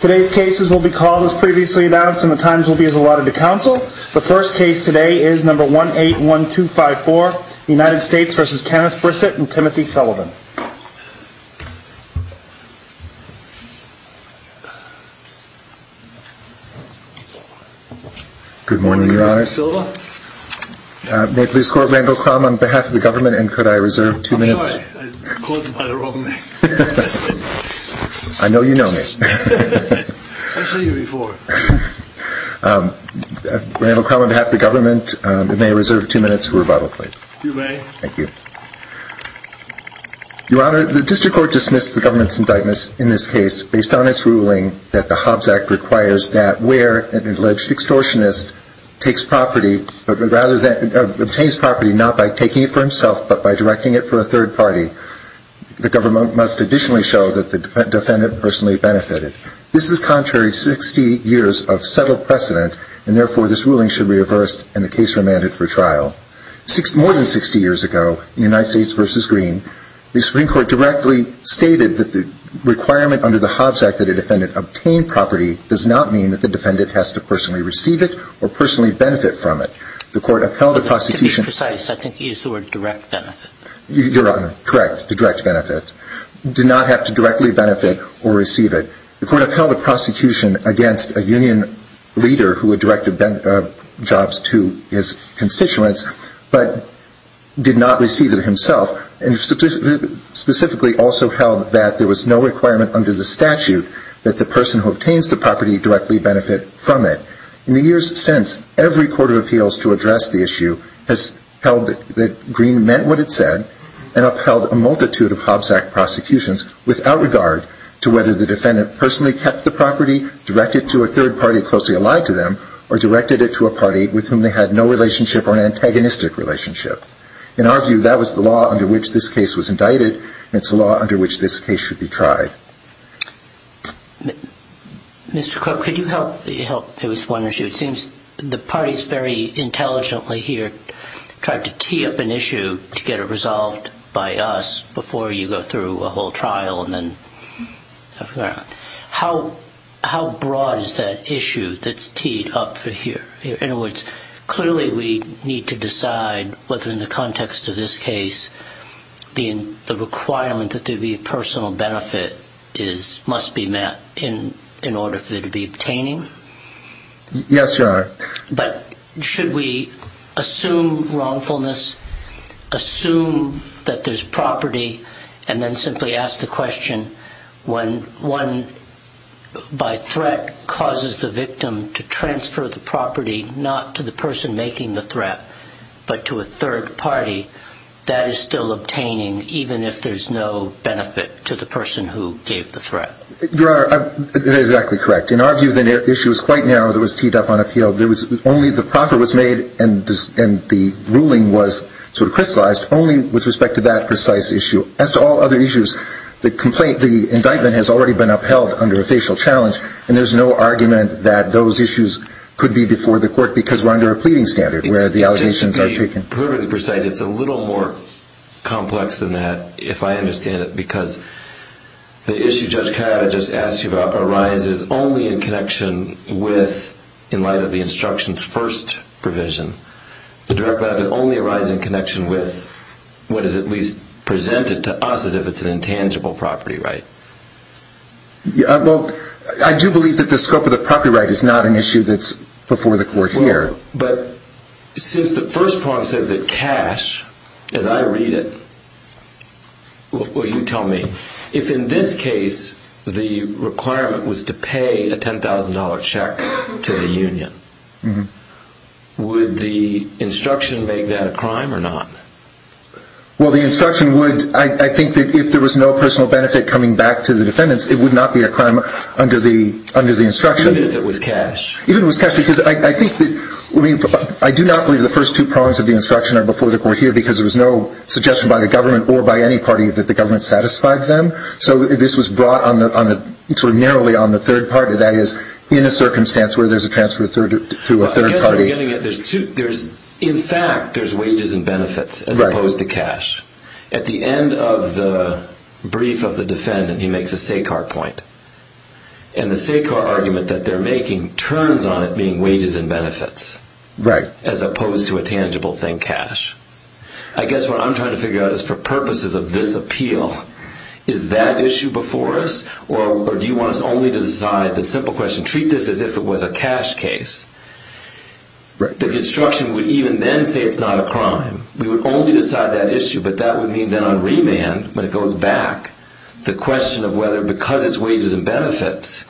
Today's cases will be called as previously announced and the times will be as allotted to counsel. The first case today is number 181254, United States v. Kenneth Brissette and Timothy Sullivan. Good morning, your honors. May I please call Randall Crum on behalf of the government and could I reserve two minutes? I know you know me. Randall Crum on behalf of the government, may I reserve two minutes for rebuttal please? You may. Thank you. Your honor, the district court dismissed the government's indictments in this case based on its ruling that the Hobbs Act requires that where an alleged extortionist takes property, obtains property not by taking it for himself but by directing it for a third party, the government must additionally show that the defendant personally benefited. This is contrary to 60 years of settled precedent and therefore this ruling should be reversed and the case remanded for trial. More than 60 years ago in United States v. Green, the Supreme Court directly stated that the requirement under the Hobbs Act that a defendant obtain property does not mean that the defendant has to personally receive it or personally benefit from it. The court upheld the prosecution. To be precise, I think you used the word direct benefit. Your honor, correct, direct benefit. Did not have to directly benefit or receive it. The court upheld the prosecution against a union leader who had directed jobs to his constituents but did not receive it himself and specifically also held that there was no requirement under the statute that the person who obtains the property directly benefit from it. In the years since, every court of appeals to address the issue has held that Green meant what it said and upheld a multitude of Hobbs Act prosecutions without regard to whether the defendant personally kept the property, directed it to a third party closely allied to them, or directed it to a party with whom they had no relationship or an antagonistic relationship. In our view, that was the law under which this case was tried. Mr. Cook, could you help? It was one issue. It seems the parties very intelligently here tried to tee up an issue to get it resolved by us before you go through a whole trial and then... How broad is that issue that's teed up for here? In other words, clearly we need to decide whether in the context of this case being the requirement that there is no benefit must be met in order for there to be obtaining? Yes, Your Honor. But should we assume wrongfulness, assume that there's property, and then simply ask the question when one by threat causes the victim to transfer the property not to the person making the threat? Your Honor, that is exactly correct. In our view, the issue is quite narrow that was teed up on appeal. Only the proffer was made and the ruling was sort of crystallized only with respect to that precise issue. As to all other issues, the indictment has already been upheld under a facial challenge and there's no argument that those issues could be before the court because we're under a pleading standard where the allegations are taken. It's a little more complex than that, if I understand it, because the issue Judge Carotta just asked you about arises only in connection with, in light of the instruction's first provision, the direct benefit only arises in connection with what is at least presented to us as if it's an intangible property right. Well, I do believe that the scope of the property right is not an issue that's before the court here. Well, but since the first part says that cash, as I read it, well you tell me, if in this case the requirement was to pay a $10,000 check to the union, would the instruction make that a crime or not? Well, the instruction would, I think that if there was no personal benefit coming back to the defendants it would not be a crime under the instruction. Even if it was cash? Even if it was cash, because I think that, I do not believe the first two prongs of the instruction are before the court here because there was no suggestion by the government or by any party that the government satisfied them, so this was brought on the, sort of narrowly on the third party, that is, in a circumstance where there's a transfer through a third party. I guess we're getting it, there's two, in fact there's wages and benefits as opposed to cash. At the end of the brief of the defendant, he makes a SACAR point, and the SACAR argument that they're making turns on it being wages and benefits, as opposed to a tangible thing, cash. I guess what I'm trying to figure out is for purposes of this appeal, is that issue before us, or do you want us only to decide, the simple question, treat this as if it was a cash case. The instruction would even then say it's not a crime. We would only decide that issue, but that would mean that on remand, when it goes back, the question of whether because it's wages and benefits,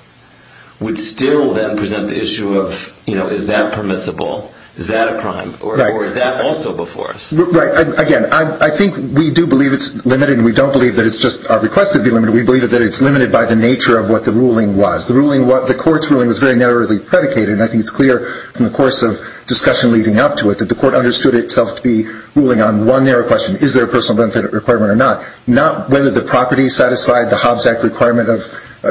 would still then present the issue of, you know, is that permissible? Is that a crime? Or is that also before us? Right. Again, I think we do believe it's limited, and we don't believe that it's just our request to be limited, we believe that it's limited by the nature of what the ruling was. The ruling was, the court's ruling was very narrowly predicated, and I think it's clear from the course of discussion leading up to it that the court understood itself to be ruling on one narrow question, is there a personal benefit requirement or not? Not whether the property satisfied the Hobbs Act requirement of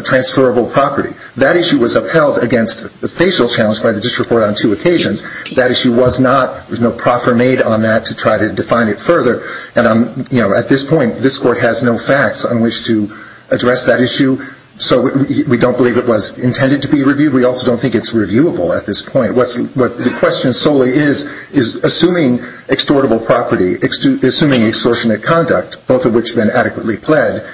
transferable property. That issue was upheld against the facial challenge by the district court on two occasions. That issue was not, there was no proffer made on that to try to define it further, and at this point, this court has no facts on which to address that issue, so we don't believe it was intended to be reviewed. We also don't think it's reviewable at this point. What the question solely is, is assuming extortable property, assuming extortionate conduct, both of which have been adequately pled,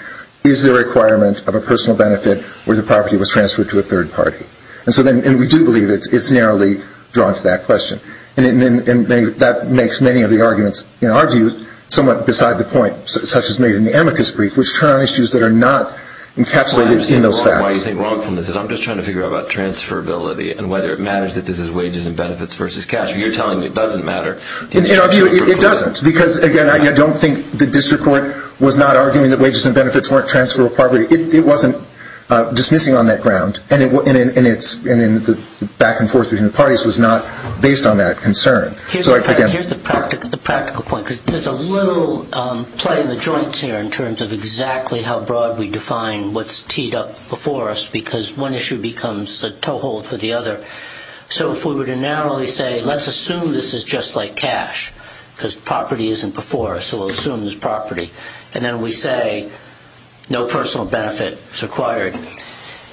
is there a requirement of a personal benefit where the property was transferred to a third party? And we do believe it's narrowly drawn to that question. And that makes many of the arguments, in our view, somewhat beside the point, such as made in the amicus brief, which turn on issues that are not encapsulated in those facts. I understand why you think wrong from this, is I'm just trying to figure out about transferability and whether it matters that this is wages and benefits versus cash. You're telling me it doesn't matter. In our view, it doesn't. Because, again, I don't think the district court was not arguing that wages and benefits weren't transferable property. It wasn't dismissing on that ground. And the back and forth between the parties was not based on that concern. Here's the practical point, because there's a little play in the joints here in terms of exactly how broad we define what's teed up before us, because one issue becomes a So if we were to narrowly say, let's assume this is just like cash, because property isn't before us, so we'll assume it's property. And then we say, no personal benefit is required.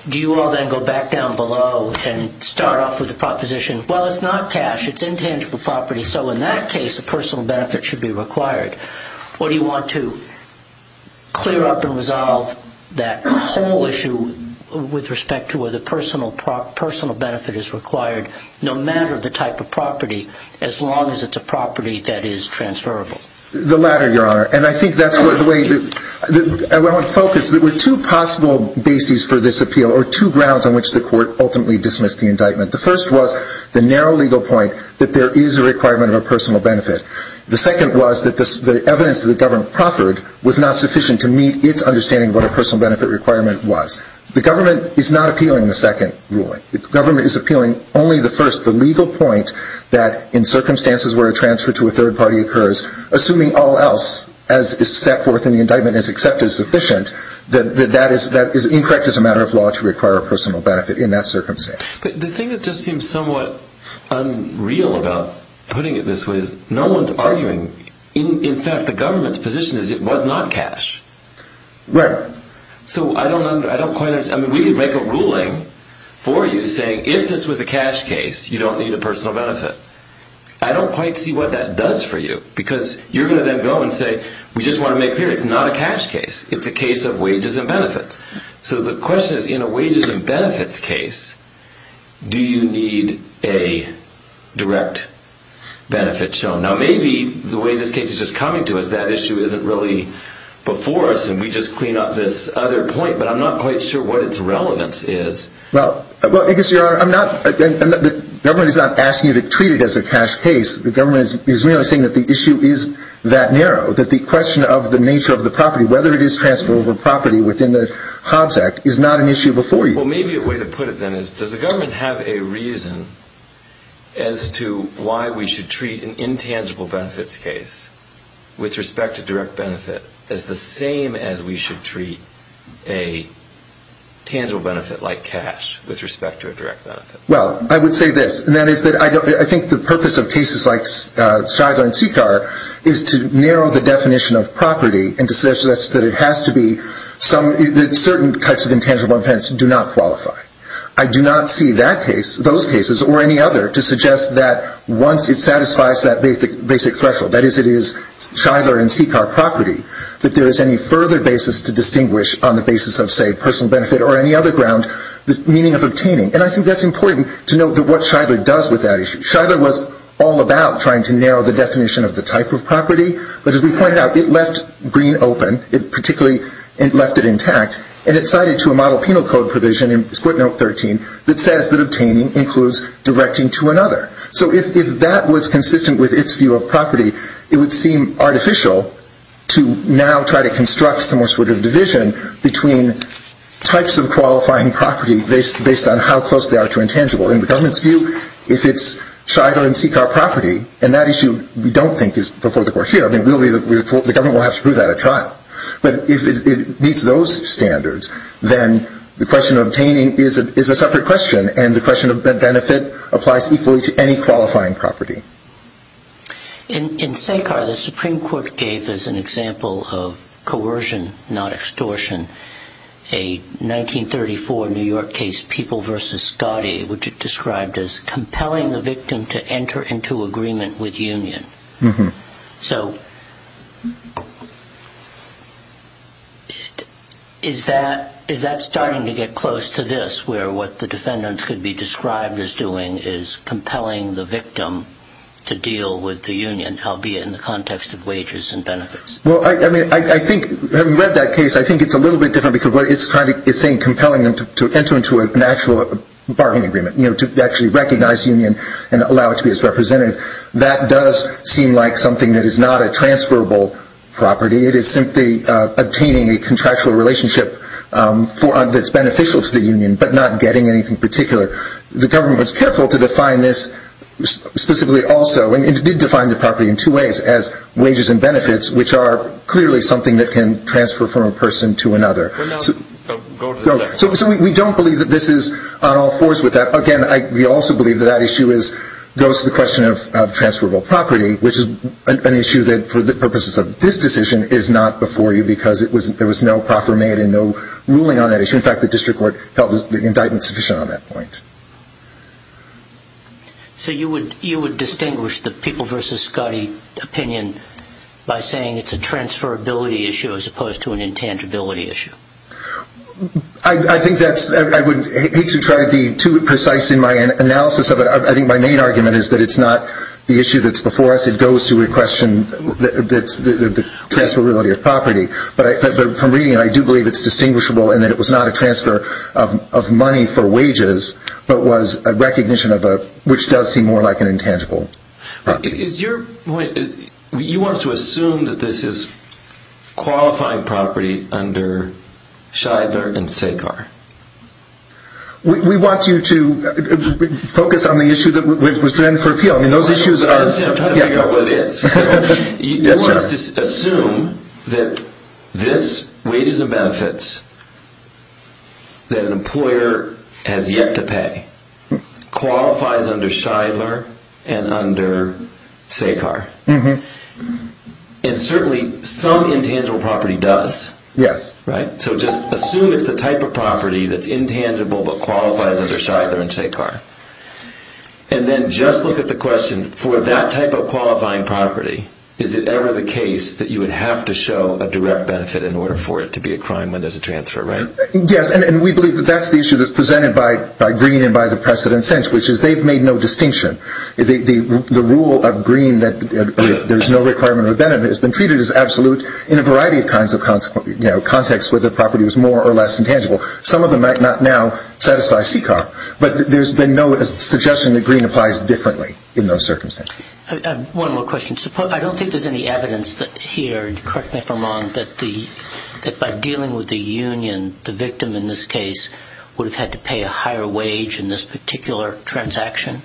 Do you all then go back down below and start off with the proposition, well, it's not cash, it's intangible property, so in that case, a personal benefit should be required. Or do you want to clear up and resolve that whole issue with respect to whether personal benefit is required, no matter the type of property, as long as it's a property that is transferable? The latter, Your Honor. And I think that's the way to focus. There were two possible bases for this appeal, or two grounds on which the court ultimately dismissed the indictment. The first was the narrow legal point that there is a requirement of a personal benefit. The second was that the evidence that the government proffered was not sufficient to meet its understanding of what a personal benefit requirement was. The government is not appealing the second ruling. The government is appealing only the first, the legal point that in circumstances where a transfer to a third party occurs, assuming all else, as is set forth in the indictment, is accepted as sufficient, that that is incorrect as a matter of law to require a personal benefit in that circumstance. But the thing that just seems somewhat unreal about putting it this way is no one's arguing. In fact, the government's position is it was not cash. Right. So I don't quite understand. I mean, we could make a ruling for you saying if this was a cash case, you don't need a personal benefit. I don't quite see what that does for you, because you're going to then go and say, we just want to make clear it's not a cash case. It's a case of wages and benefits. So the question is, in a wages and benefits case, do you need a direct benefit shown? Now maybe the way this case is just coming to us, that issue isn't really before us and we just clean up this other point, but I'm not quite sure what its relevance is. Well, I guess, Your Honor, I'm not, the government is not asking you to treat it as a cash case. The government is merely saying that the issue is that narrow, that the question of the nature of the property, whether it is transferable property within the Hobbs Act, is not an issue before you. Well, maybe a way to put it then is, does the government have a reason as to why we should treat an intangible benefits case with respect to direct benefit as the same as we should treat a tangible benefit like cash with respect to a direct benefit? Well, I would say this, and that is that I don't, I think the purpose of cases like Shigler and Sicar is to narrow the definition of property into such that it has to be some, that certain types of intangible benefits do not qualify. I do not see that case, those cases, or any other, to suggest that once it satisfies that basic threshold, that is, it is Shigler and Sicar property, that there is any further basis to distinguish on the basis of, say, personal benefit or any other ground, the meaning of obtaining. And I think that's important to note what Shigler does with that issue. Shigler was all about trying to narrow the definition of the type of property, but as we pointed out, it left green open, it particularly left it intact, and it cited to a model penal code provision in court note 13 that says that obtaining includes directing to another. So if that was consistent with its view of property, it would seem artificial to now try to construct some sort of division between types of qualifying property based on how close they are to intangible. In the government's view, if it's Shigler and Sicar property, and that issue we don't think is before the court here, I mean, we'll be, the government will have to prove that at trial. But if it meets those standards, then the question of obtaining is a separate question, and the question of benefit applies equally to any qualifying property. In Sicar, the Supreme Court gave as an example of coercion, not extortion, a 1934 New York case, People v. Scottie, which it described as compelling the victim to enter into agreement with union. So is that starting to get close to this, where what the defendants could be described as doing is compelling the victim to deal with the union, albeit in the context of wages and benefits? Well, I mean, I think, having read that case, I think it's a little bit different because what it's trying to, it's saying compelling them to enter into an actual bargaining agreement, you know, to actually recognize union and allow it to be as representative. That does seem like something that is not a transferable property. It is simply obtaining a contractual relationship for, that's beneficial to the union, but not getting anything particular. The government was careful to define this specifically also, and it did define the property in two ways, as wages and benefits, which are clearly something that can transfer from a person to another. So we don't believe that this is on all fours with that. Again, we also believe that that issue goes to the question of transferable property, which is an issue that, for the purposes of this decision, is not before you because there was no proffer made and no ruling on that issue. In fact, the district court held the indictment sufficient on that point. So you would distinguish the People v. Scottie opinion by saying it's a transferability issue as opposed to an intangibility issue. I think that's, I would hate to try to be too precise in my analysis of it. I think my main argument is that it's not the issue that's before us. It goes to a question that's the transferability of property. But from reading it, I do believe it's distinguishable in that it was not a transfer of money for wages, but was a recognition of a, which does seem more like an intangible property. Is your point, you want us to assume that this is qualifying property under Scheidler and SACAR? We want you to focus on the issue that was presented for appeal. I mean, those issues are... I'm trying to figure out what it is. Yes, sir. You want us to assume that this wages and benefits that an employer has yet to pay qualifies under Scheidler and under SACAR? Mm-hmm. And certainly some intangible property does. Yes. Right? So just assume it's the type of property that's intangible but qualifies under Scheidler and SACAR. And then just look at the question, for that type of qualifying property, is it ever the case that you would have to show a direct benefit in order for it to be a crime when there's a transfer, right? Yes, and we believe that that's the issue that's presented by Green and by the precedent which is they've made no distinction. The rule of Green that there's no requirement of benefit has been treated as absolute in a variety of kinds of contexts where the property was more or less intangible. Some of them might not now satisfy SACAR, but there's been no suggestion that Green applies differently in those circumstances. One more question. I don't think there's any evidence here, correct me if I'm wrong, that by dealing with the union, the victim in this case would have had to pay a higher wage in this particular transaction?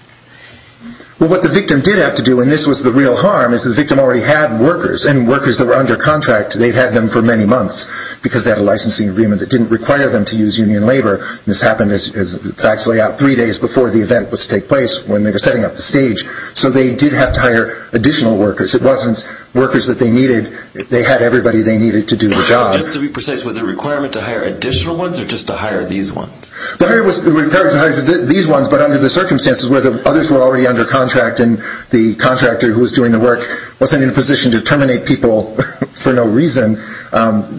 Well, what the victim did have to do, and this was the real harm, is the victim already had workers. And workers that were under contract, they'd had them for many months because they had a licensing agreement that didn't require them to use union labor. This happened as facts lay out three days before the event was to take place when they were setting up the stage. So they did have to hire additional workers. It wasn't workers that they needed. They had everybody they needed to do the job. Just to be precise, was there a requirement to hire additional ones or just to hire these ones? The requirement was to hire these ones, but under the circumstances where the others were already under contract and the contractor who was doing the work wasn't in a position to terminate people for no reason,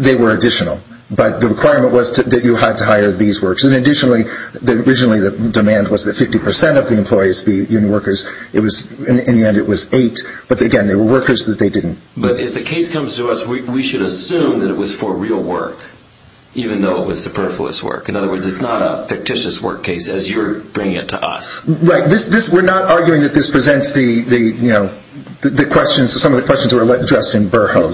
they were additional. But the requirement was that you had to hire these workers. And additionally, originally the demand was that 50% of the employees be union workers. In the end, it was eight. But again, they were workers that they didn't. But if the case comes to us, we should assume that it was for real work, even though it is not a fictitious work case as you're bringing it to us. Right. We're not arguing that this presents some of the questions that were addressed in Burho.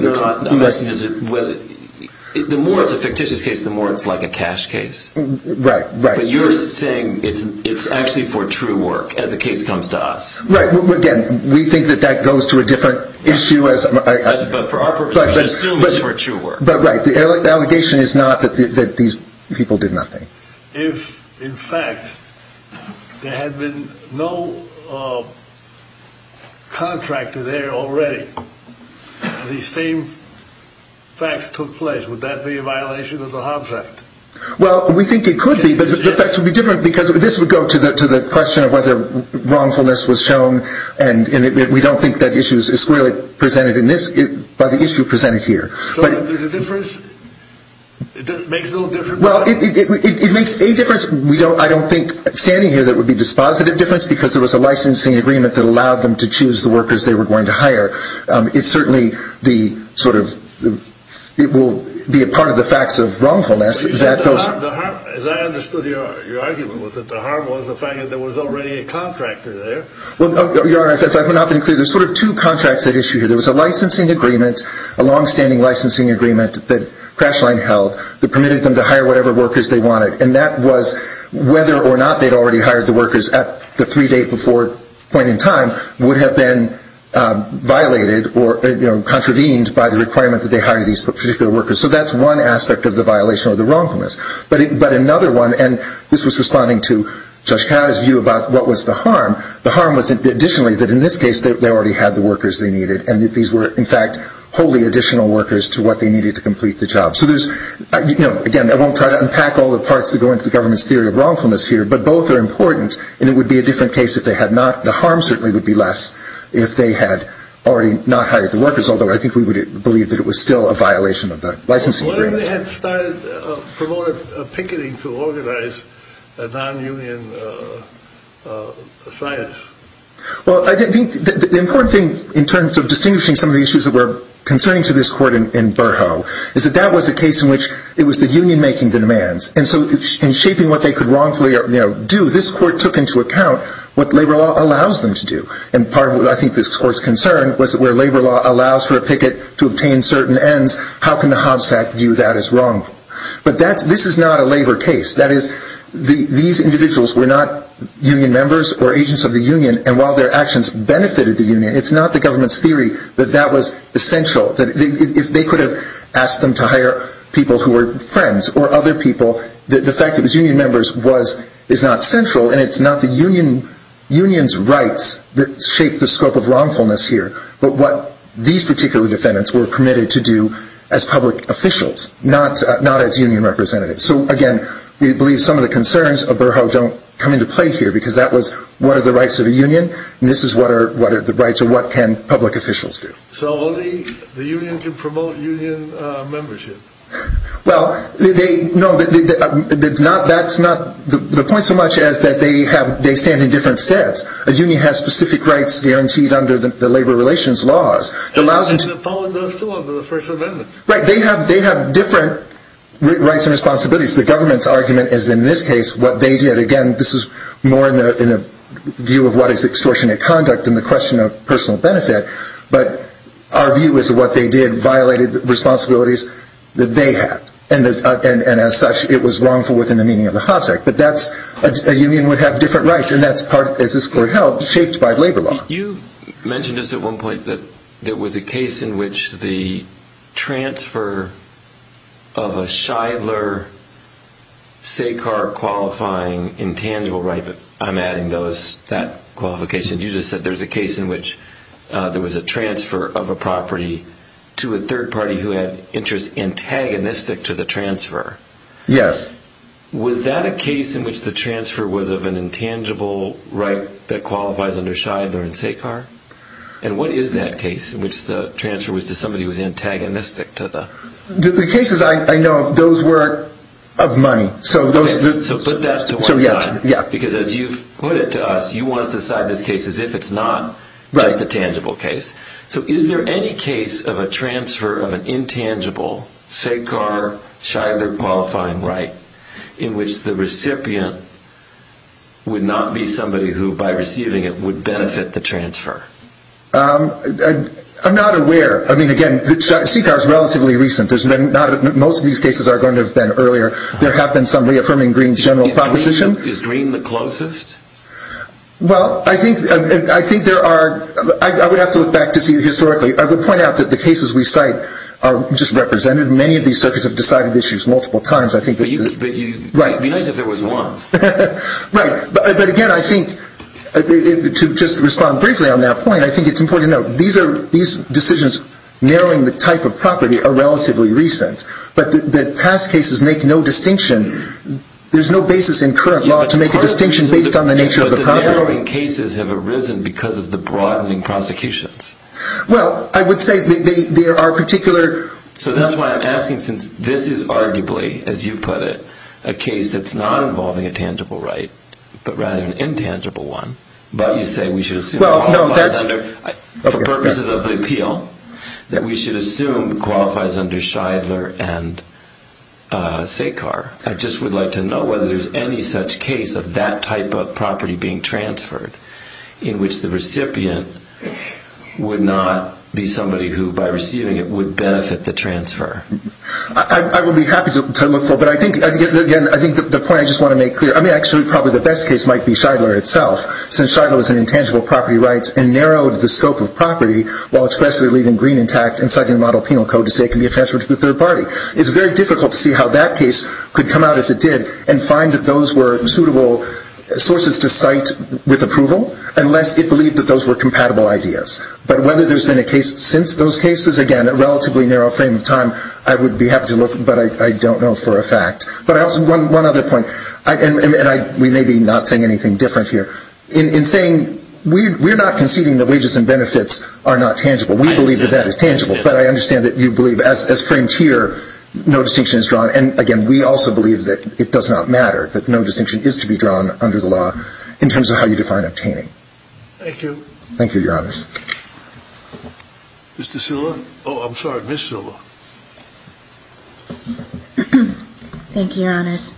The more it's a fictitious case, the more it's like a cash case. Right. But you're saying it's actually for true work as the case comes to us. Right. Again, we think that that goes to a different issue. But for our purpose, we should assume it's for true work. But right, the allegation is not that these people did nothing. If, in fact, there had been no contractor there already, the same facts took place, would that be a violation of the Hobbs Act? Well, we think it could be, but the facts would be different because this would go to the question of whether wrongfulness was shown, and we don't think that issue is squarely presented by the issue presented here. So the difference makes no difference? Well, it makes a difference. I don't think standing here that it would be a dispositive difference because there was a licensing agreement that allowed them to choose the workers they were going to hire. It's certainly the sort of, it will be a part of the facts of wrongfulness. But you said the harm, as I understood your argument with it, the harm was the fact that there was already a contractor there. Well, Your Honor, if I've not been clear, there's sort of two contracts at issue here. There was a licensing agreement, a longstanding licensing agreement that CrashLine held that permitted them to hire whatever workers they wanted, and that was whether or not they'd already hired the workers at the three-day-before point in time would have been violated or contravened by the requirement that they hire these particular workers. So that's one aspect of the violation or the wrongfulness. But another one, and this was responding to Judge Catt's view about what was the harm, the harm was additionally that in this case they already had the workers they needed, and that these were, in fact, wholly additional workers to what they needed to complete the job. So there's, again, I won't try to unpack all the parts that go into the government's theory of wrongfulness here, but both are important, and it would be a different case if they had not. The harm certainly would be less if they had already not hired the workers, although I think we would believe that it was still a violation of the licensing agreement. Why didn't they start promoting picketing to organize a non-union science? Well, I think the important thing in terms of distinguishing some of the issues that were concerning to this court in Burho is that that was a case in which it was the union making the demands. And so in shaping what they could wrongfully do, this court took into account what labor law allows them to do, and part of what I think this court's concern was where labor law allows for a picket to obtain certain ends, how can the Hobbs Act view that as wrong? But this is not a labor case. That is, these individuals were not union members or agents of the union, and while their actions benefited the union, it's not the government's theory that that was essential. If they could have asked them to hire people who were friends or other people, the fact that it was union members is not central, and it's not the union's rights that shape the scope of wrongfulness here, but what these particular defendants were permitted to do as public officials, not as union representatives. So, again, we believe some of the concerns of Burho don't come into play here because that was what are the rights of a union, and this is what are the rights of what can public officials do. So only the union can promote union membership? Well, no, that's not the point so much as that they stand in different steps. A union has specific rights guaranteed under the labor relations laws. They have different rights and responsibilities. The government's argument is in this case what they did. Again, this is more in the view of what is extortionate conduct than the question of personal benefit, but our view is that what they did violated the responsibilities that they had, and as such, it was wrongful within the meaning of the Hobbs Act. But a union would have different rights, and that's part, as this court held, shaped by labor law. You mentioned just at one point that there was a case in which the transfer of a Shidler-Sekar qualifying intangible right, but I'm adding that qualification. You just said there was a case in which there was a transfer of a property to a third party who had interests antagonistic to the transfer. Yes. Was that a case in which the transfer was of an intangible right that qualifies under Shidler and Sekar? And what is that case in which the transfer was to somebody who was antagonistic to the... The cases I know of, those were of money, so those... So put that to one side, because as you've put it to us, you want to decide this case as if it's not just a tangible case. So is there any case of a transfer of an intangible Sekar-Shidler qualifying right in which the recipient would not be somebody who, by receiving it, would benefit the transfer? I'm not aware. I mean, again, Sekar is relatively recent. Most of these cases are going to have been earlier. There have been some reaffirming Greene's general proposition. Is Greene the closest? Well, I think there are... I would have to look back to see historically. I would point out that the cases we cite are just represented. Many of these circuits have decided issues multiple times. Right. It would be nice if there was one. Right. But again, I think, to just respond briefly on that point, I think it's important to note, these decisions narrowing the type of property are relatively recent. But past cases make no distinction. There's no basis in current law to make a distinction based on the nature of the property. But the narrowing cases have arisen because of the broadening prosecutions. Well, I would say there are particular... So that's why I'm asking, since this is arguably, as you put it, a case that's not involving a tangible right, but rather an intangible one, but you say we should assume it qualifies under... Well, no, that's... I just would like to know whether there's any such case of that type of property being transferred in which the recipient would not be somebody who, by receiving it, would benefit the transfer. I would be happy to look for... But I think, again, I think the point I just want to make clear... I mean, actually, probably the best case might be Scheidler itself, since Scheidler was an intangible property rights and narrowed the scope of property while expressly leaving green intact and citing the model penal code to say it can be transferred to the third party. It's very difficult to see how that case could come out as it did and find that those were suitable sources to cite with approval, unless it believed that those were compatible ideas. But whether there's been a case since those cases, again, a relatively narrow frame of time, I would be happy to look, but I don't know for a fact. But one other point, and we may be not saying anything different here. In saying we're not conceding that wages and benefits are not tangible. We believe that that is tangible. But I understand that you believe, as framed here, no distinction is drawn. And, again, we also believe that it does not matter, that no distinction is to be drawn under the law in terms of how you define obtaining. Thank you. Thank you, Your Honors. Mr. Silva? Oh, I'm sorry, Ms. Silva. Thank you, Your Honors.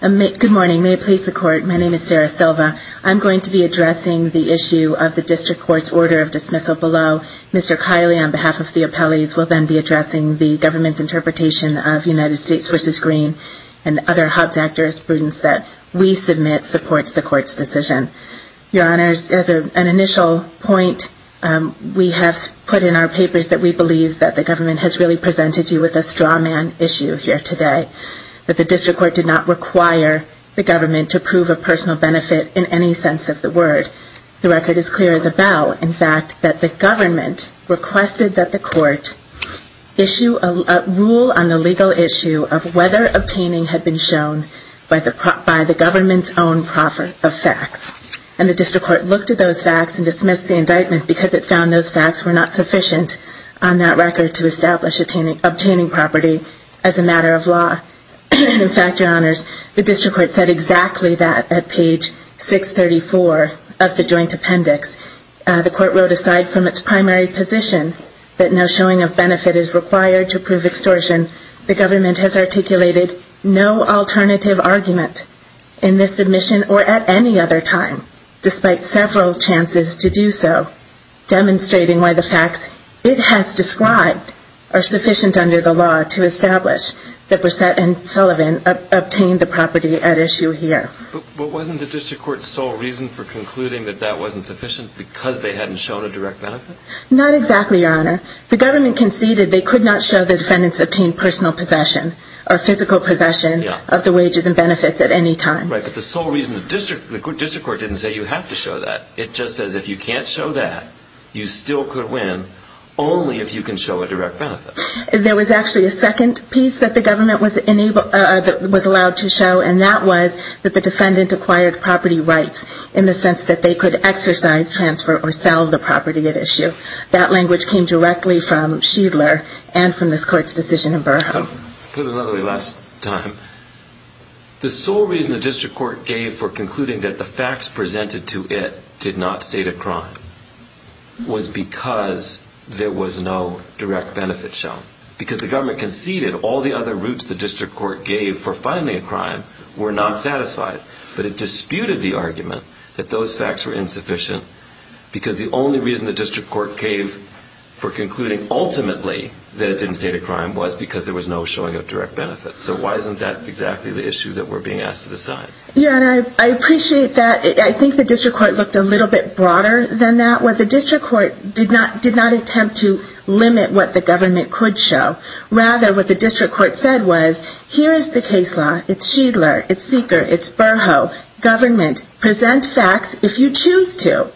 Good morning. May it please the Court, my name is Sarah Silva. I'm going to be addressing the issue of the district court's order of dismissal below. Mr. Kiley, on behalf of the appellees, will then be addressing the government's interpretation of United States v. Green and other Hobbs Act jurisprudence that we submit supports the Court's decision. Your Honors, as an initial point, we have put in our papers that we believe that the government has really presented you with a straw man issue here today. That the district court did not require the government to prove a personal benefit in any sense of the word. The record is clear as a bell. In fact, that the government requested that the court issue a rule on the legal issue of whether obtaining had been shown by the government's own proffer of facts. And the district court looked at those facts and dismissed the indictment because it found those facts were not sufficient on that record to establish obtaining property as a matter of law. In fact, Your Honors, the district court said exactly that at page 634 of the joint appendix. The court wrote aside from its primary position, that no showing of benefit is required to prove extortion, the government has articulated no alternative argument in this submission or at any other time, despite several chances to do so. Demonstrating why the facts it has described are sufficient under the law to establish that Brissett and Sullivan obtained the property at issue here. But wasn't the district court's sole reason for concluding that that wasn't sufficient because they hadn't shown a direct benefit? Not exactly, Your Honor. The government conceded they could not show the defendants obtained personal possession or physical possession of the wages and benefits at any time. Right, but the sole reason the district court didn't say you have to show that. It just says if you can't show that, you still could win only if you can show a direct benefit. There was actually a second piece that the government was allowed to show and that was that the defendant acquired property rights in the sense that they could exercise, transfer, or sell the property at issue. That language came directly from Shiedler and from this court's decision in Burhoff. I'll put it another way last time. The sole reason the district court gave for concluding that the facts presented to it did not state a crime was because there was no direct benefit shown. Because the government conceded all the other routes the district court gave for finding a crime were not satisfied. But it disputed the argument that those facts were insufficient because the only reason the district court gave for concluding ultimately that it didn't state a crime was because there was no showing of direct benefit. So why isn't that exactly the issue that we're being asked to decide? Yeah, and I appreciate that. I think the district court looked a little bit broader than that. What the district court did not attempt to limit what the government could show. Rather, what the district court said was, here is the case law, it's Shiedler, it's Seeker, it's Burhoff. Government, present facts if you choose to.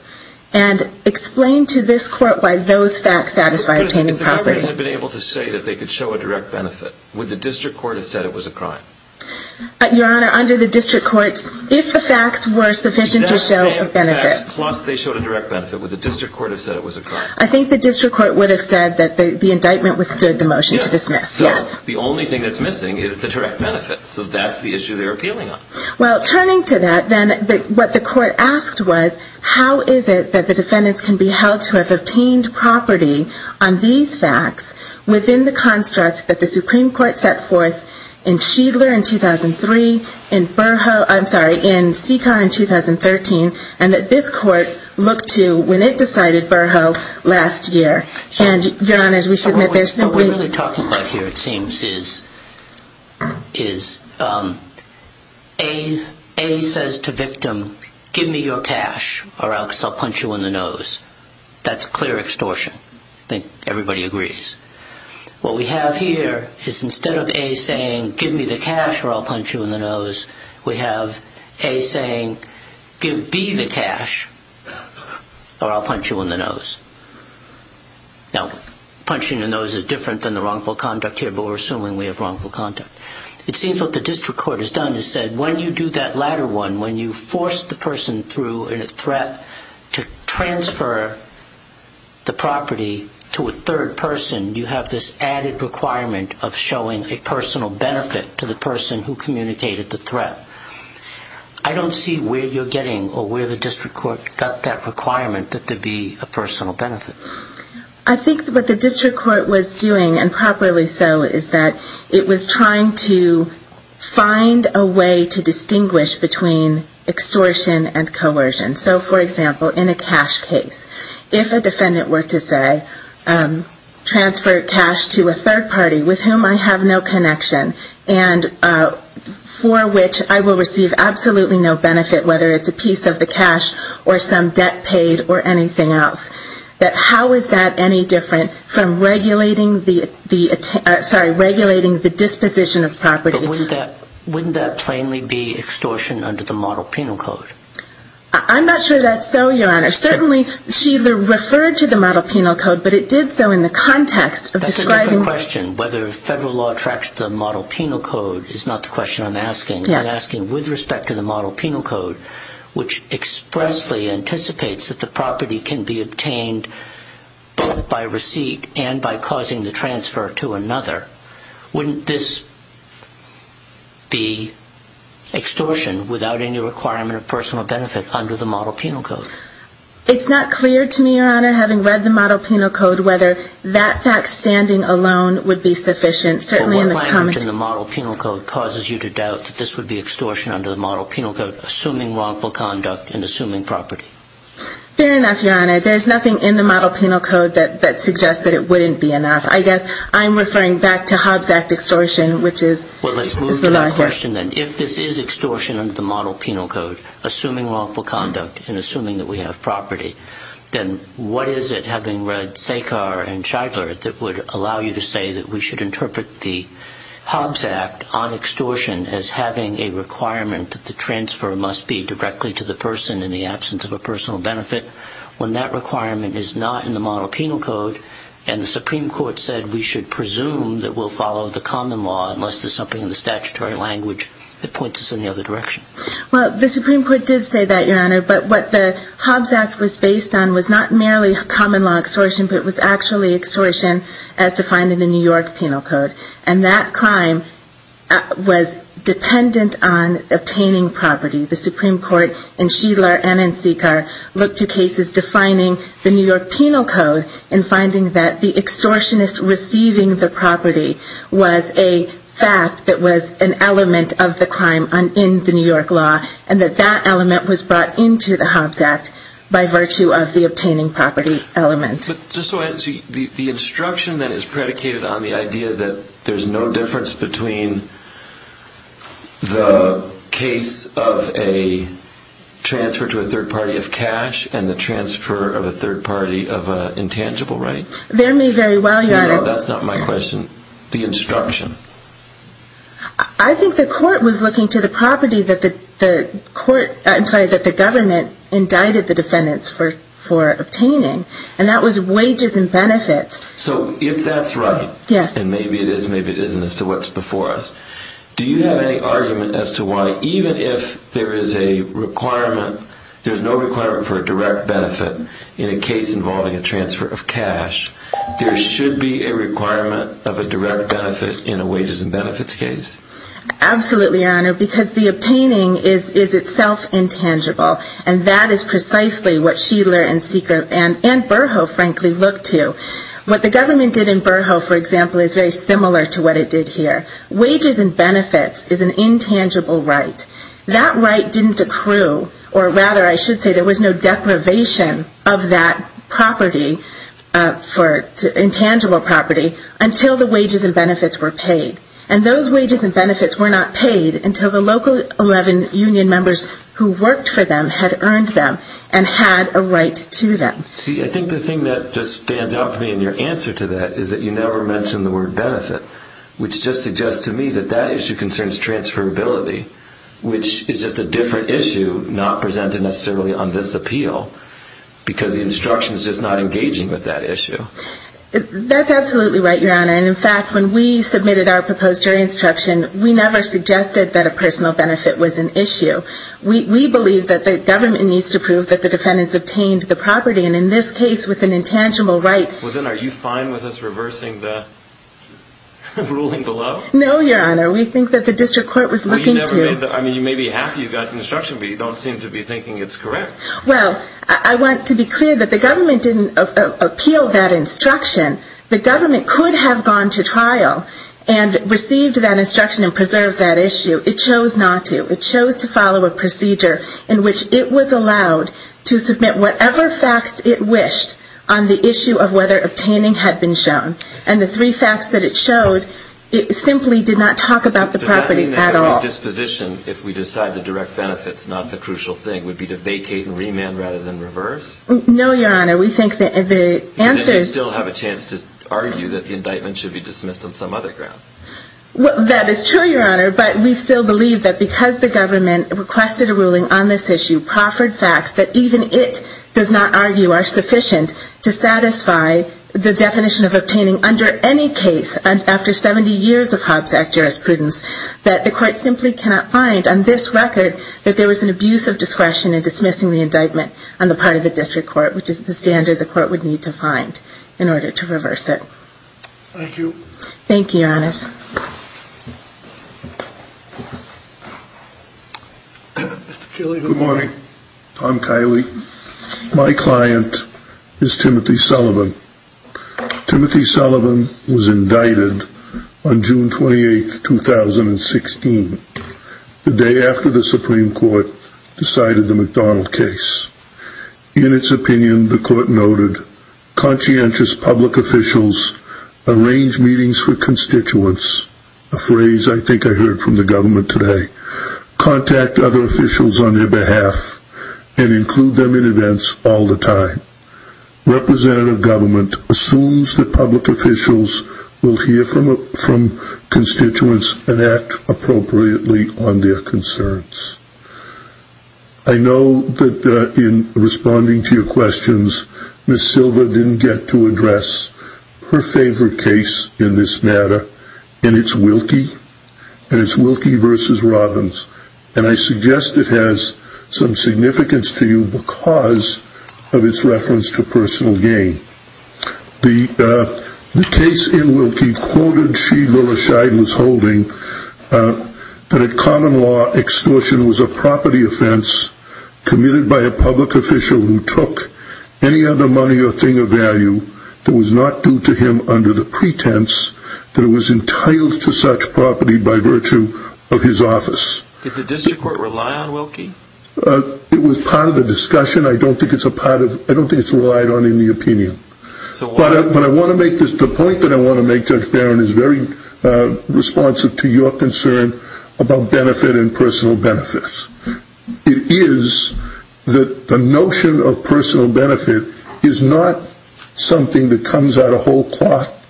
And explain to this court why those facts satisfy obtaining property. But if the government had been able to say that they could show a direct benefit, would the district court have said it was a crime? Your Honor, under the district courts, if the facts were sufficient to show a benefit. Plus they showed a direct benefit, would the district court have said it was a crime? I think the district court would have said that the indictment withstood the motion to dismiss, yes. So the only thing that's missing is the direct benefit. So that's the issue they're appealing on. Well, turning to that then, what the court asked was, how is it that the defendants can be held to have obtained property on these facts within the construct that the Supreme Court set forth in Shiedler in 2003, in Burhoff, I'm sorry, in Seeker in 2013, and that this court looked to when it decided Burhoff last year. And, Your Honor, as we submit this, simply... What we're really talking about here, it seems, is A says to victim, give me your cash or else I'll punch you in the nose. That's clear extortion. I think everybody agrees. What we have here is instead of A saying, give me the cash or I'll punch you in the nose, we have A saying, give B the cash or I'll punch you in the nose. Now, punching in the nose is different than the wrongful conduct here, but we're assuming we have wrongful conduct. It seems what the district court has done is said, when you do that latter one, when you force the person through a threat to transfer the property to a third person, you have this added requirement of showing a personal benefit to the person who communicated the threat. I don't see where you're getting or where the district court got that requirement that there be a personal benefit. I think what the district court was doing, and properly so, is that it was trying to find a way to distinguish between extortion and coercion. So, for example, in a cash case, if a defendant were to say, transfer cash to a third party with whom I have no connection and for which I will receive absolutely no benefit, whether it's a piece of the cash or some debt paid or anything else, that how is that any different from regulating the disposition of property? But wouldn't that plainly be extortion under the model penal code? I'm not sure that's so, Your Honor. Certainly, she referred to the model penal code, but it did so in the context of describing... That's a different question. Whether federal law tracks the model penal code is not the question I'm asking. I'm asking with respect to the model penal code, which expressly anticipates that the property can be obtained both by receipt and by causing the transfer to another, wouldn't this be extortion without any requirement of personal benefit under the model penal code? It's not clear to me, Your Honor, having read the model penal code, whether that fact standing alone would be sufficient. Certainly, in the comment... What climate in the model penal code causes you to doubt that this would be extortion under the model penal code, assuming wrongful conduct and assuming property? Fair enough, Your Honor. There's nothing in the model penal code that suggests that it wouldn't be enough. I guess I'm referring back to Hobbs Act extortion, which is... Well, let's move to that question then. If this is extortion under the model penal code, assuming wrongful conduct and assuming that we have property, then what is it, having read Sekhar and Shidler, that would allow you to say that we should interpret the Hobbs Act on extortion as having a requirement that the transfer must be directly to the person in the absence of a personal benefit when that requirement is not in the model penal code and the Supreme Court said we should presume that we'll follow the common law unless there's something in the statutory language that points us in the other direction? Well, the Supreme Court did say that, Your Honor, but what the Hobbs Act was based on was not merely common law extortion, but it was actually extortion as defined in the New York penal code. And that crime was dependent on obtaining property. The Supreme Court in Shidler and in Sekhar looked to cases defining the New York penal code in finding that the extortionist receiving the property was a fact that was an element of the crime in the New York law and that that element was brought into the Hobbs Act by virtue of the obtaining property element. But just so I can see, the instruction that is predicated on the idea that there's no difference between the case of a transfer to a third party of cash and the transfer of a third party of an intangible right? They're made very well, Your Honor. No, that's not my question. The instruction. I think the court was looking to the property that the government indicted the defendants for obtaining and that was wages and benefits. So if that's right, and maybe it is, maybe it isn't as to what's before us, do you have any argument as to why even if there is a requirement, there's no requirement for a direct benefit in a case involving a transfer of cash, there should be a requirement of a direct benefit in a wages and benefits case? Absolutely, Your Honor, because the obtaining is itself intangible and that is precisely what Sheeler and Seeker and Burho, frankly, looked to. What the government did in Burho, for example, is very similar to what it did here. Wages and benefits is an intangible right. That right didn't accrue, or rather I should say there was no deprivation of that property, intangible property, until the wages and benefits were paid. And those wages and benefits were not paid until the local 11 union members who worked for them had earned them and had a right to them. See, I think the thing that just stands out for me in your answer to that is that you never mention the word benefit, which just suggests to me that that issue concerns transferability, which is just a different issue not presented necessarily on this appeal, because the instruction is just not engaging with that issue. That's absolutely right, Your Honor. And in fact, when we submitted our proposed jury instruction, we never suggested that a personal benefit was an issue. We believe that the government needs to prove that the defendants obtained the property. And in this case, with an intangible right... Well, then are you fine with us reversing the ruling below? No, Your Honor. We think that the district court was looking to... Well, you may be happy you got the instruction, but you don't seem to be thinking it's correct. Well, I want to be clear that the government didn't appeal that instruction. The government could have gone to trial and received that instruction and preserved that issue. It chose not to. It chose to follow a procedure in which it was allowed to submit whatever facts it wished on the issue of whether obtaining had been shown. And the three facts that it showed, it simply did not talk about the property at all. Does that mean that our disposition, if we decide to direct benefits, not the crucial thing, would be to vacate and remand rather than reverse? No, Your Honor. We think that the answers... Does it still have a chance to argue that the indictment should be dismissed on some other ground? Well, that is true, Your Honor. But we still believe that because the government requested a ruling on this issue, proffered facts that even it does not argue are sufficient to satisfy the definition of obtaining under any case after 70 years of Hobbs Act jurisprudence, that the court simply cannot find on this record that there was an abuse of discretion in dismissing the indictment on the part of the district court, which is the standard the court would need to find in order to reverse it. Thank you. Thank you, Your Honors. Good morning. I'm Kylie. My client is Timothy Sullivan. Timothy Sullivan was indicted on June 28, 2016, the day after the Supreme Court decided the McDonald case. In its opinion, the court noted, conscientious public officials arrange meetings for constituents, a phrase I think I heard from the government today, contact other officials on their behalf and include them in events all the time. Representative government assumes that public officials will hear from constituents and act appropriately on their concerns. I know that in responding to your questions, Ms. Silva didn't get to address her favorite case in this matter, and it's Wilkie versus Robbins. And I suggest it has some significance to you because of its reference to personal gain. The case in Wilkie quoted she, Lula Scheid, was holding, that a common law extortion was a property offense committed by a public official who took any other money or thing of value that was not due to him under the pretense that it was entitled to such property by virtue of his office. Did the district court rely on Wilkie? It was part of the discussion. I don't think it's relied on in the opinion. But the point that I want to make, Judge Barron, is very responsive to your concern about benefit and personal benefits. It is that the notion of personal benefit is not something that comes out of whole cloth.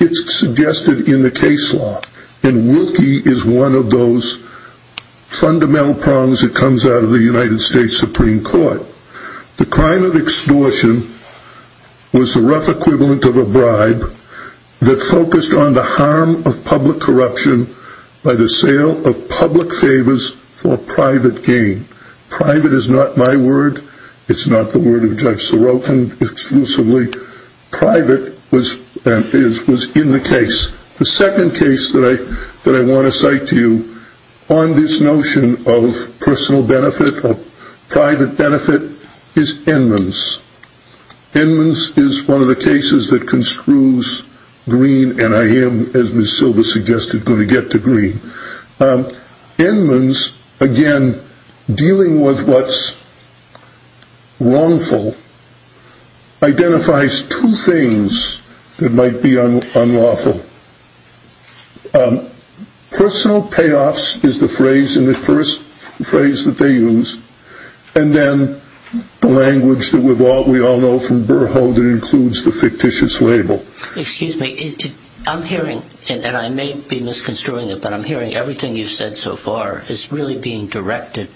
It's suggested in the case law, and Wilkie is one of those fundamental prongs that comes out of the United States Supreme Court. The crime of extortion was the rough equivalent of a bribe that focused on the harm of public corruption by the sale of public favors for private gain. Private is not my word. It's not the word of Judge Sorokin exclusively. Private was in the case. The second case that I want to cite to you on this notion of personal benefit, of private benefit, is Enmans. Enmans is one of the cases that construes green, and I am, as Ms. Silva suggested, going to get to green. Enmans, again, dealing with what's wrongful, identifies two things that might be unlawful. Personal payoffs is the phrase, and the first phrase that they use, and then the language that we all know from Burho that includes the fictitious label. Excuse me. I'm hearing, and I may be misconstruing it, but I'm hearing everything you've said so far is really being directed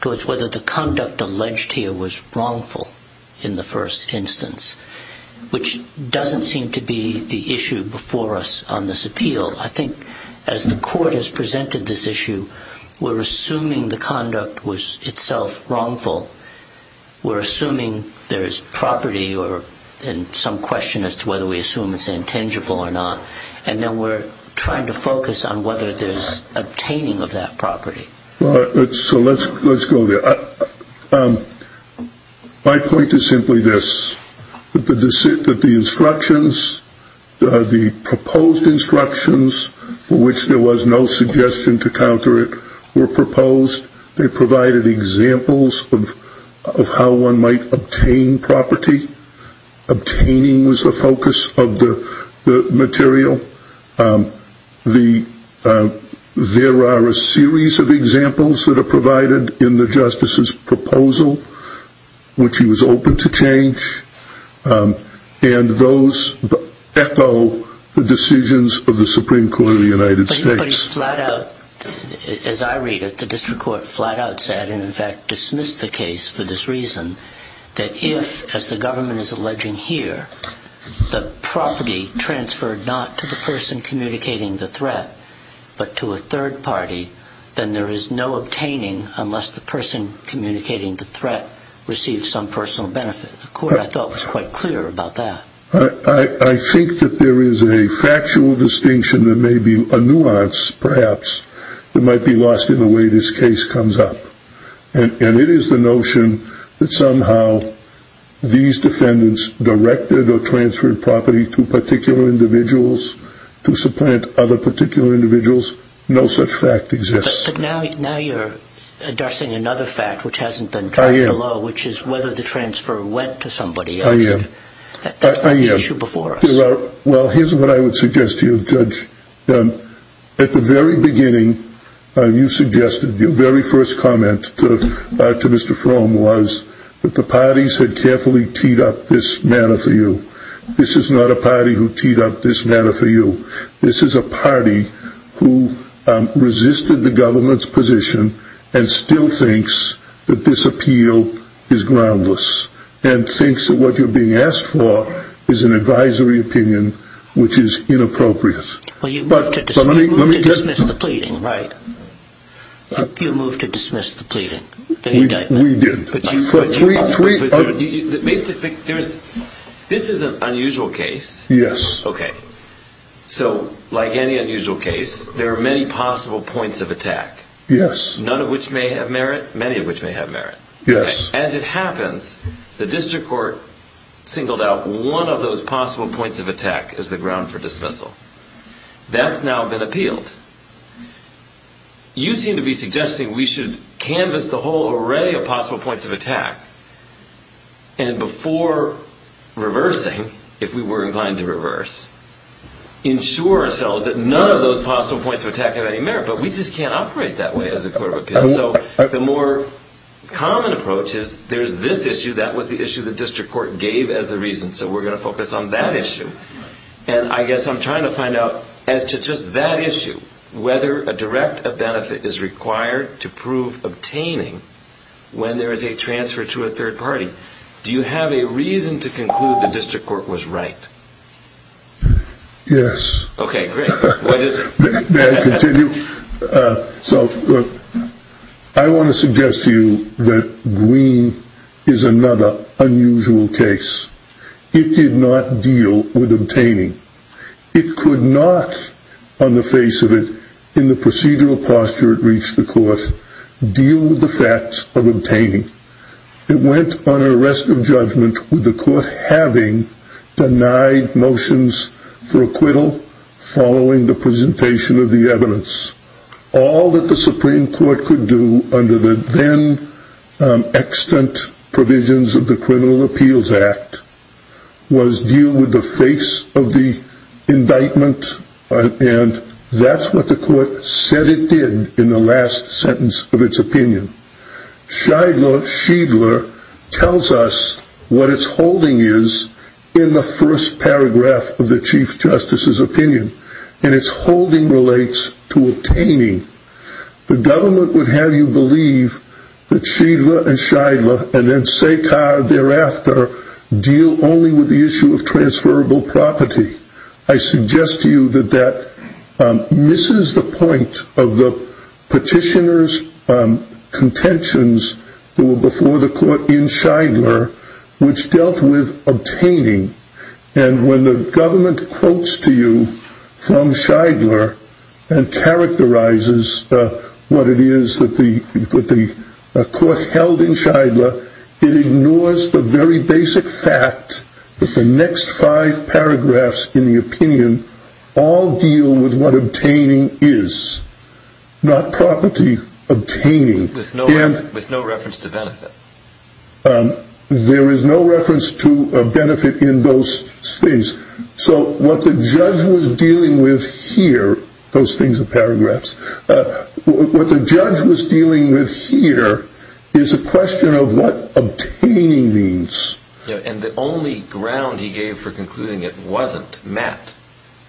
towards whether the conduct alleged here was wrongful in the first instance, which doesn't seem to be the issue before us on this appeal. I think as the court has presented this issue, we're assuming the conduct was itself wrongful. We're assuming there's property and some question as to whether we assume it's intangible or not, and then we're trying to focus on whether there's obtaining of that property. So let's go there. My point is simply this, that the instructions, the proposed instructions, for which there was no suggestion to counter it, were proposed. They provided examples of how one might obtain property. Obtaining was the focus of the material. There are a series of examples that are provided in the Justice's proposal, which he was open to change, and those echo the decisions of the Supreme Court of the United States. But he flat out, as I read it, the district court flat out said, and in fact dismissed the case for this reason, that if, as the government is alleging here, the property transferred not to the person communicating the threat, but to a third party, then there is no obtaining unless the person communicating the threat receives some personal benefit. The court, I thought, was quite clear about that. I think that there is a factual distinction that may be a nuance, perhaps, that might be lost in the way this case comes up. And it is the notion that somehow these defendants directed or transferred property to particular individuals to supplant other particular individuals. No such fact exists. But now you're addressing another fact, which hasn't been dropped below, which is whether the transfer went to somebody else. That's the issue before us. Well, here's what I would suggest to you, Judge. At the very beginning, you suggested, your very first comment to Mr. Fromm was that the parties had carefully teed up this matter for you. This is not a party who teed up this matter for you. This is a party who resisted the government's position and still thinks that this appeal is groundless and thinks that what you're being asked for is an advisory opinion, which is inappropriate. Well, you moved to dismiss the pleading, right? You moved to dismiss the pleading, the indictment. We did. Basically, this is an unusual case. Yes. Okay. So, like any unusual case, there are many possible points of attack. Yes. None of which may have merit, many of which may have merit. Yes. Anyway, as it happens, the district court singled out one of those possible points of attack as the ground for dismissal. That's now been appealed. You seem to be suggesting we should canvass the whole array of possible points of attack and before reversing, if we were inclined to reverse, ensure ourselves that none of those possible points of attack have any merit, but we just can't operate that way as a court of appeal. So the more common approach is there's this issue, that was the issue the district court gave as the reason, so we're going to focus on that issue. And I guess I'm trying to find out, as to just that issue, whether a direct benefit is required to prove obtaining when there is a transfer to a third party. Do you have a reason to conclude the district court was right? Yes. Okay, great. What is it? May I continue? So I want to suggest to you that Green is another unusual case. It did not deal with obtaining. It could not, on the face of it, in the procedural posture it reached the court, deal with the facts of obtaining. It went on an arrest of judgment with the court having denied motions for acquittal following the presentation of the evidence. All that the Supreme Court could do under the then extant provisions of the Criminal Appeals Act was deal with the face of the indictment, and that's what the court said it did in the last sentence of its opinion. Scheidler tells us what its holding is in the first paragraph of the Chief Justice's opinion, and its holding relates to obtaining. The government would have you believe that Scheidler and then Sekar thereafter deal only with the issue of transferable property. I suggest to you that that misses the point of the petitioner's contentions that were before the court in Scheidler, which dealt with obtaining. And when the government quotes to you from Scheidler and characterizes what it is that the court held in Scheidler, it ignores the very basic fact that the next five paragraphs in the opinion all deal with what obtaining is, not property obtaining. With no reference to benefit. There is no reference to benefit in those things. So what the judge was dealing with here, those things are paragraphs, what the judge was dealing with here is a question of what obtaining means. And the only ground he gave for concluding it wasn't met,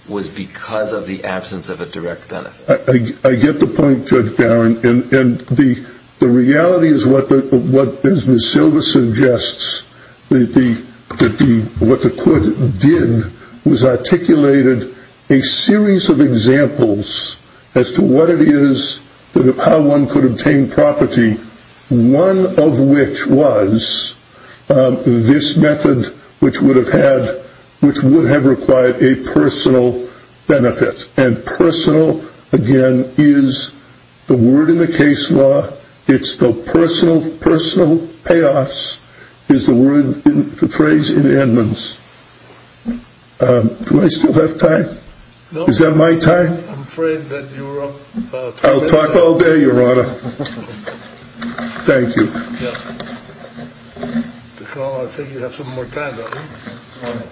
was because of the absence of a direct benefit. I get the point Judge Barron, and the reality is what Ms. Silva suggests, what the court did was articulated a series of examples as to what it is, how one could obtain property, one of which was this method, which would have required a personal benefit. And personal, again, is the word in the case law, it's the personal payoffs, is the phrase in Edmonds. Do I still have time? Is that my time? I'm afraid that you're up. I'll talk all day, Your Honor. Thank you. I think you have some more time, don't you?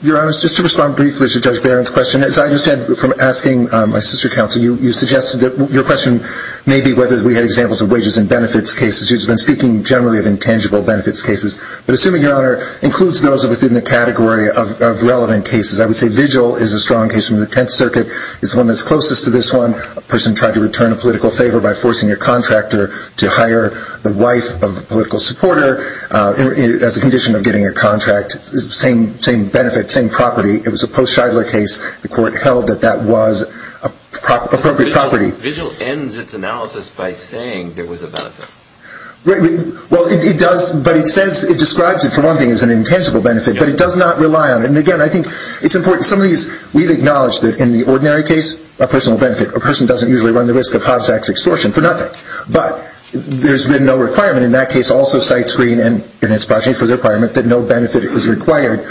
Your Honor, just to respond briefly to Judge Barron's question, as I understand from asking my sister counsel, you suggested that your question may be whether we had examples of wages and benefits cases. She's been speaking generally of intangible benefits cases. But assuming, Your Honor, includes those within the category of relevant cases, I would say vigil is a strong case from the Tenth Circuit. It's the one that's closest to this one. A person tried to return a political favor by forcing a contractor to hire the wife of a political supporter as a condition of getting a contract. Same benefit, same property. It was a post-Shidler case. The court held that that was an appropriate property. But vigil ends its analysis by saying there was a benefit. Well, it does. But it describes it, for one thing, as an intangible benefit. But it does not rely on it. And, again, I think it's important. Some of these we've acknowledged that in the ordinary case, a person will benefit. A person doesn't usually run the risk of Hobbs Act extortion for nothing. But there's been no requirement. In that case, also cites Green and its budget for the requirement that no benefit is required.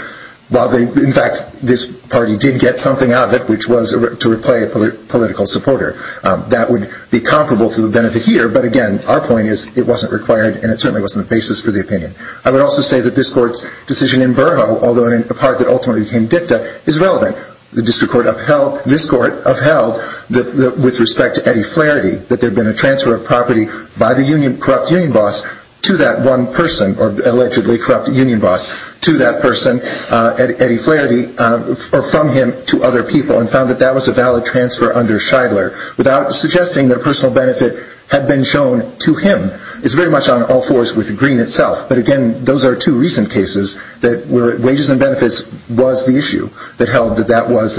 In fact, this party did get something out of it, which was to replay a political supporter. That would be comparable to the benefit here. But, again, our point is it wasn't required, and it certainly wasn't the basis for the opinion. I would also say that this court's decision in Burho, although in the part that ultimately became dicta, is relevant. The district court upheld, this court upheld, with respect to Eddie Flaherty, that there had been a transfer of property by the corrupt union boss to that one person, or allegedly corrupt union boss, to that person, Eddie Flaherty, or from him to other people, and found that that was a valid transfer under Shidler, without suggesting that a personal benefit had been shown to him. It's very much on all fours with Green itself. But, again, those are two recent cases where wages and benefits was the issue that held that that was,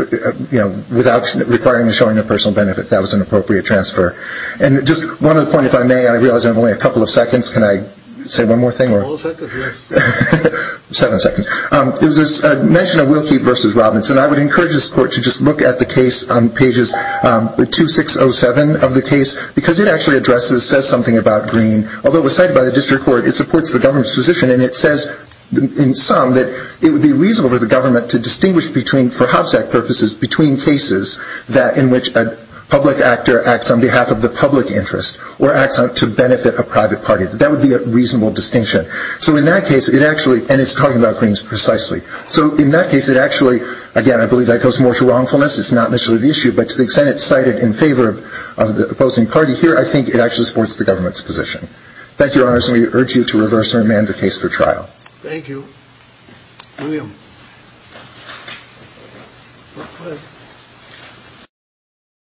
you know, without requiring the showing of personal benefit, that was an appropriate transfer. And just one other point, if I may, and I realize I have only a couple of seconds. Can I say one more thing? All seconds, yes. Seven seconds. There was a mention of Wilkie v. Robbins, and I would encourage this court to just look at the case on pages 2607 of the case, because it actually addresses, says something about Green. Although it was cited by the district court, it supports the government's position, and it says in sum that it would be reasonable for the government to distinguish between, for Hobbs Act purposes, between cases in which a public actor acts on behalf of the public interest, or acts to benefit a private party. That would be a reasonable distinction. So in that case, it actually, and it's talking about Green's precisely. So in that case, it actually, again, I believe that goes more to wrongfulness. It's not necessarily the issue, but to the extent it's cited in favor of the opposing party here, I think it actually supports the government's position. Thank you, Your Honors, and we urge you to reverse and remand the case for trial. Thank you. William.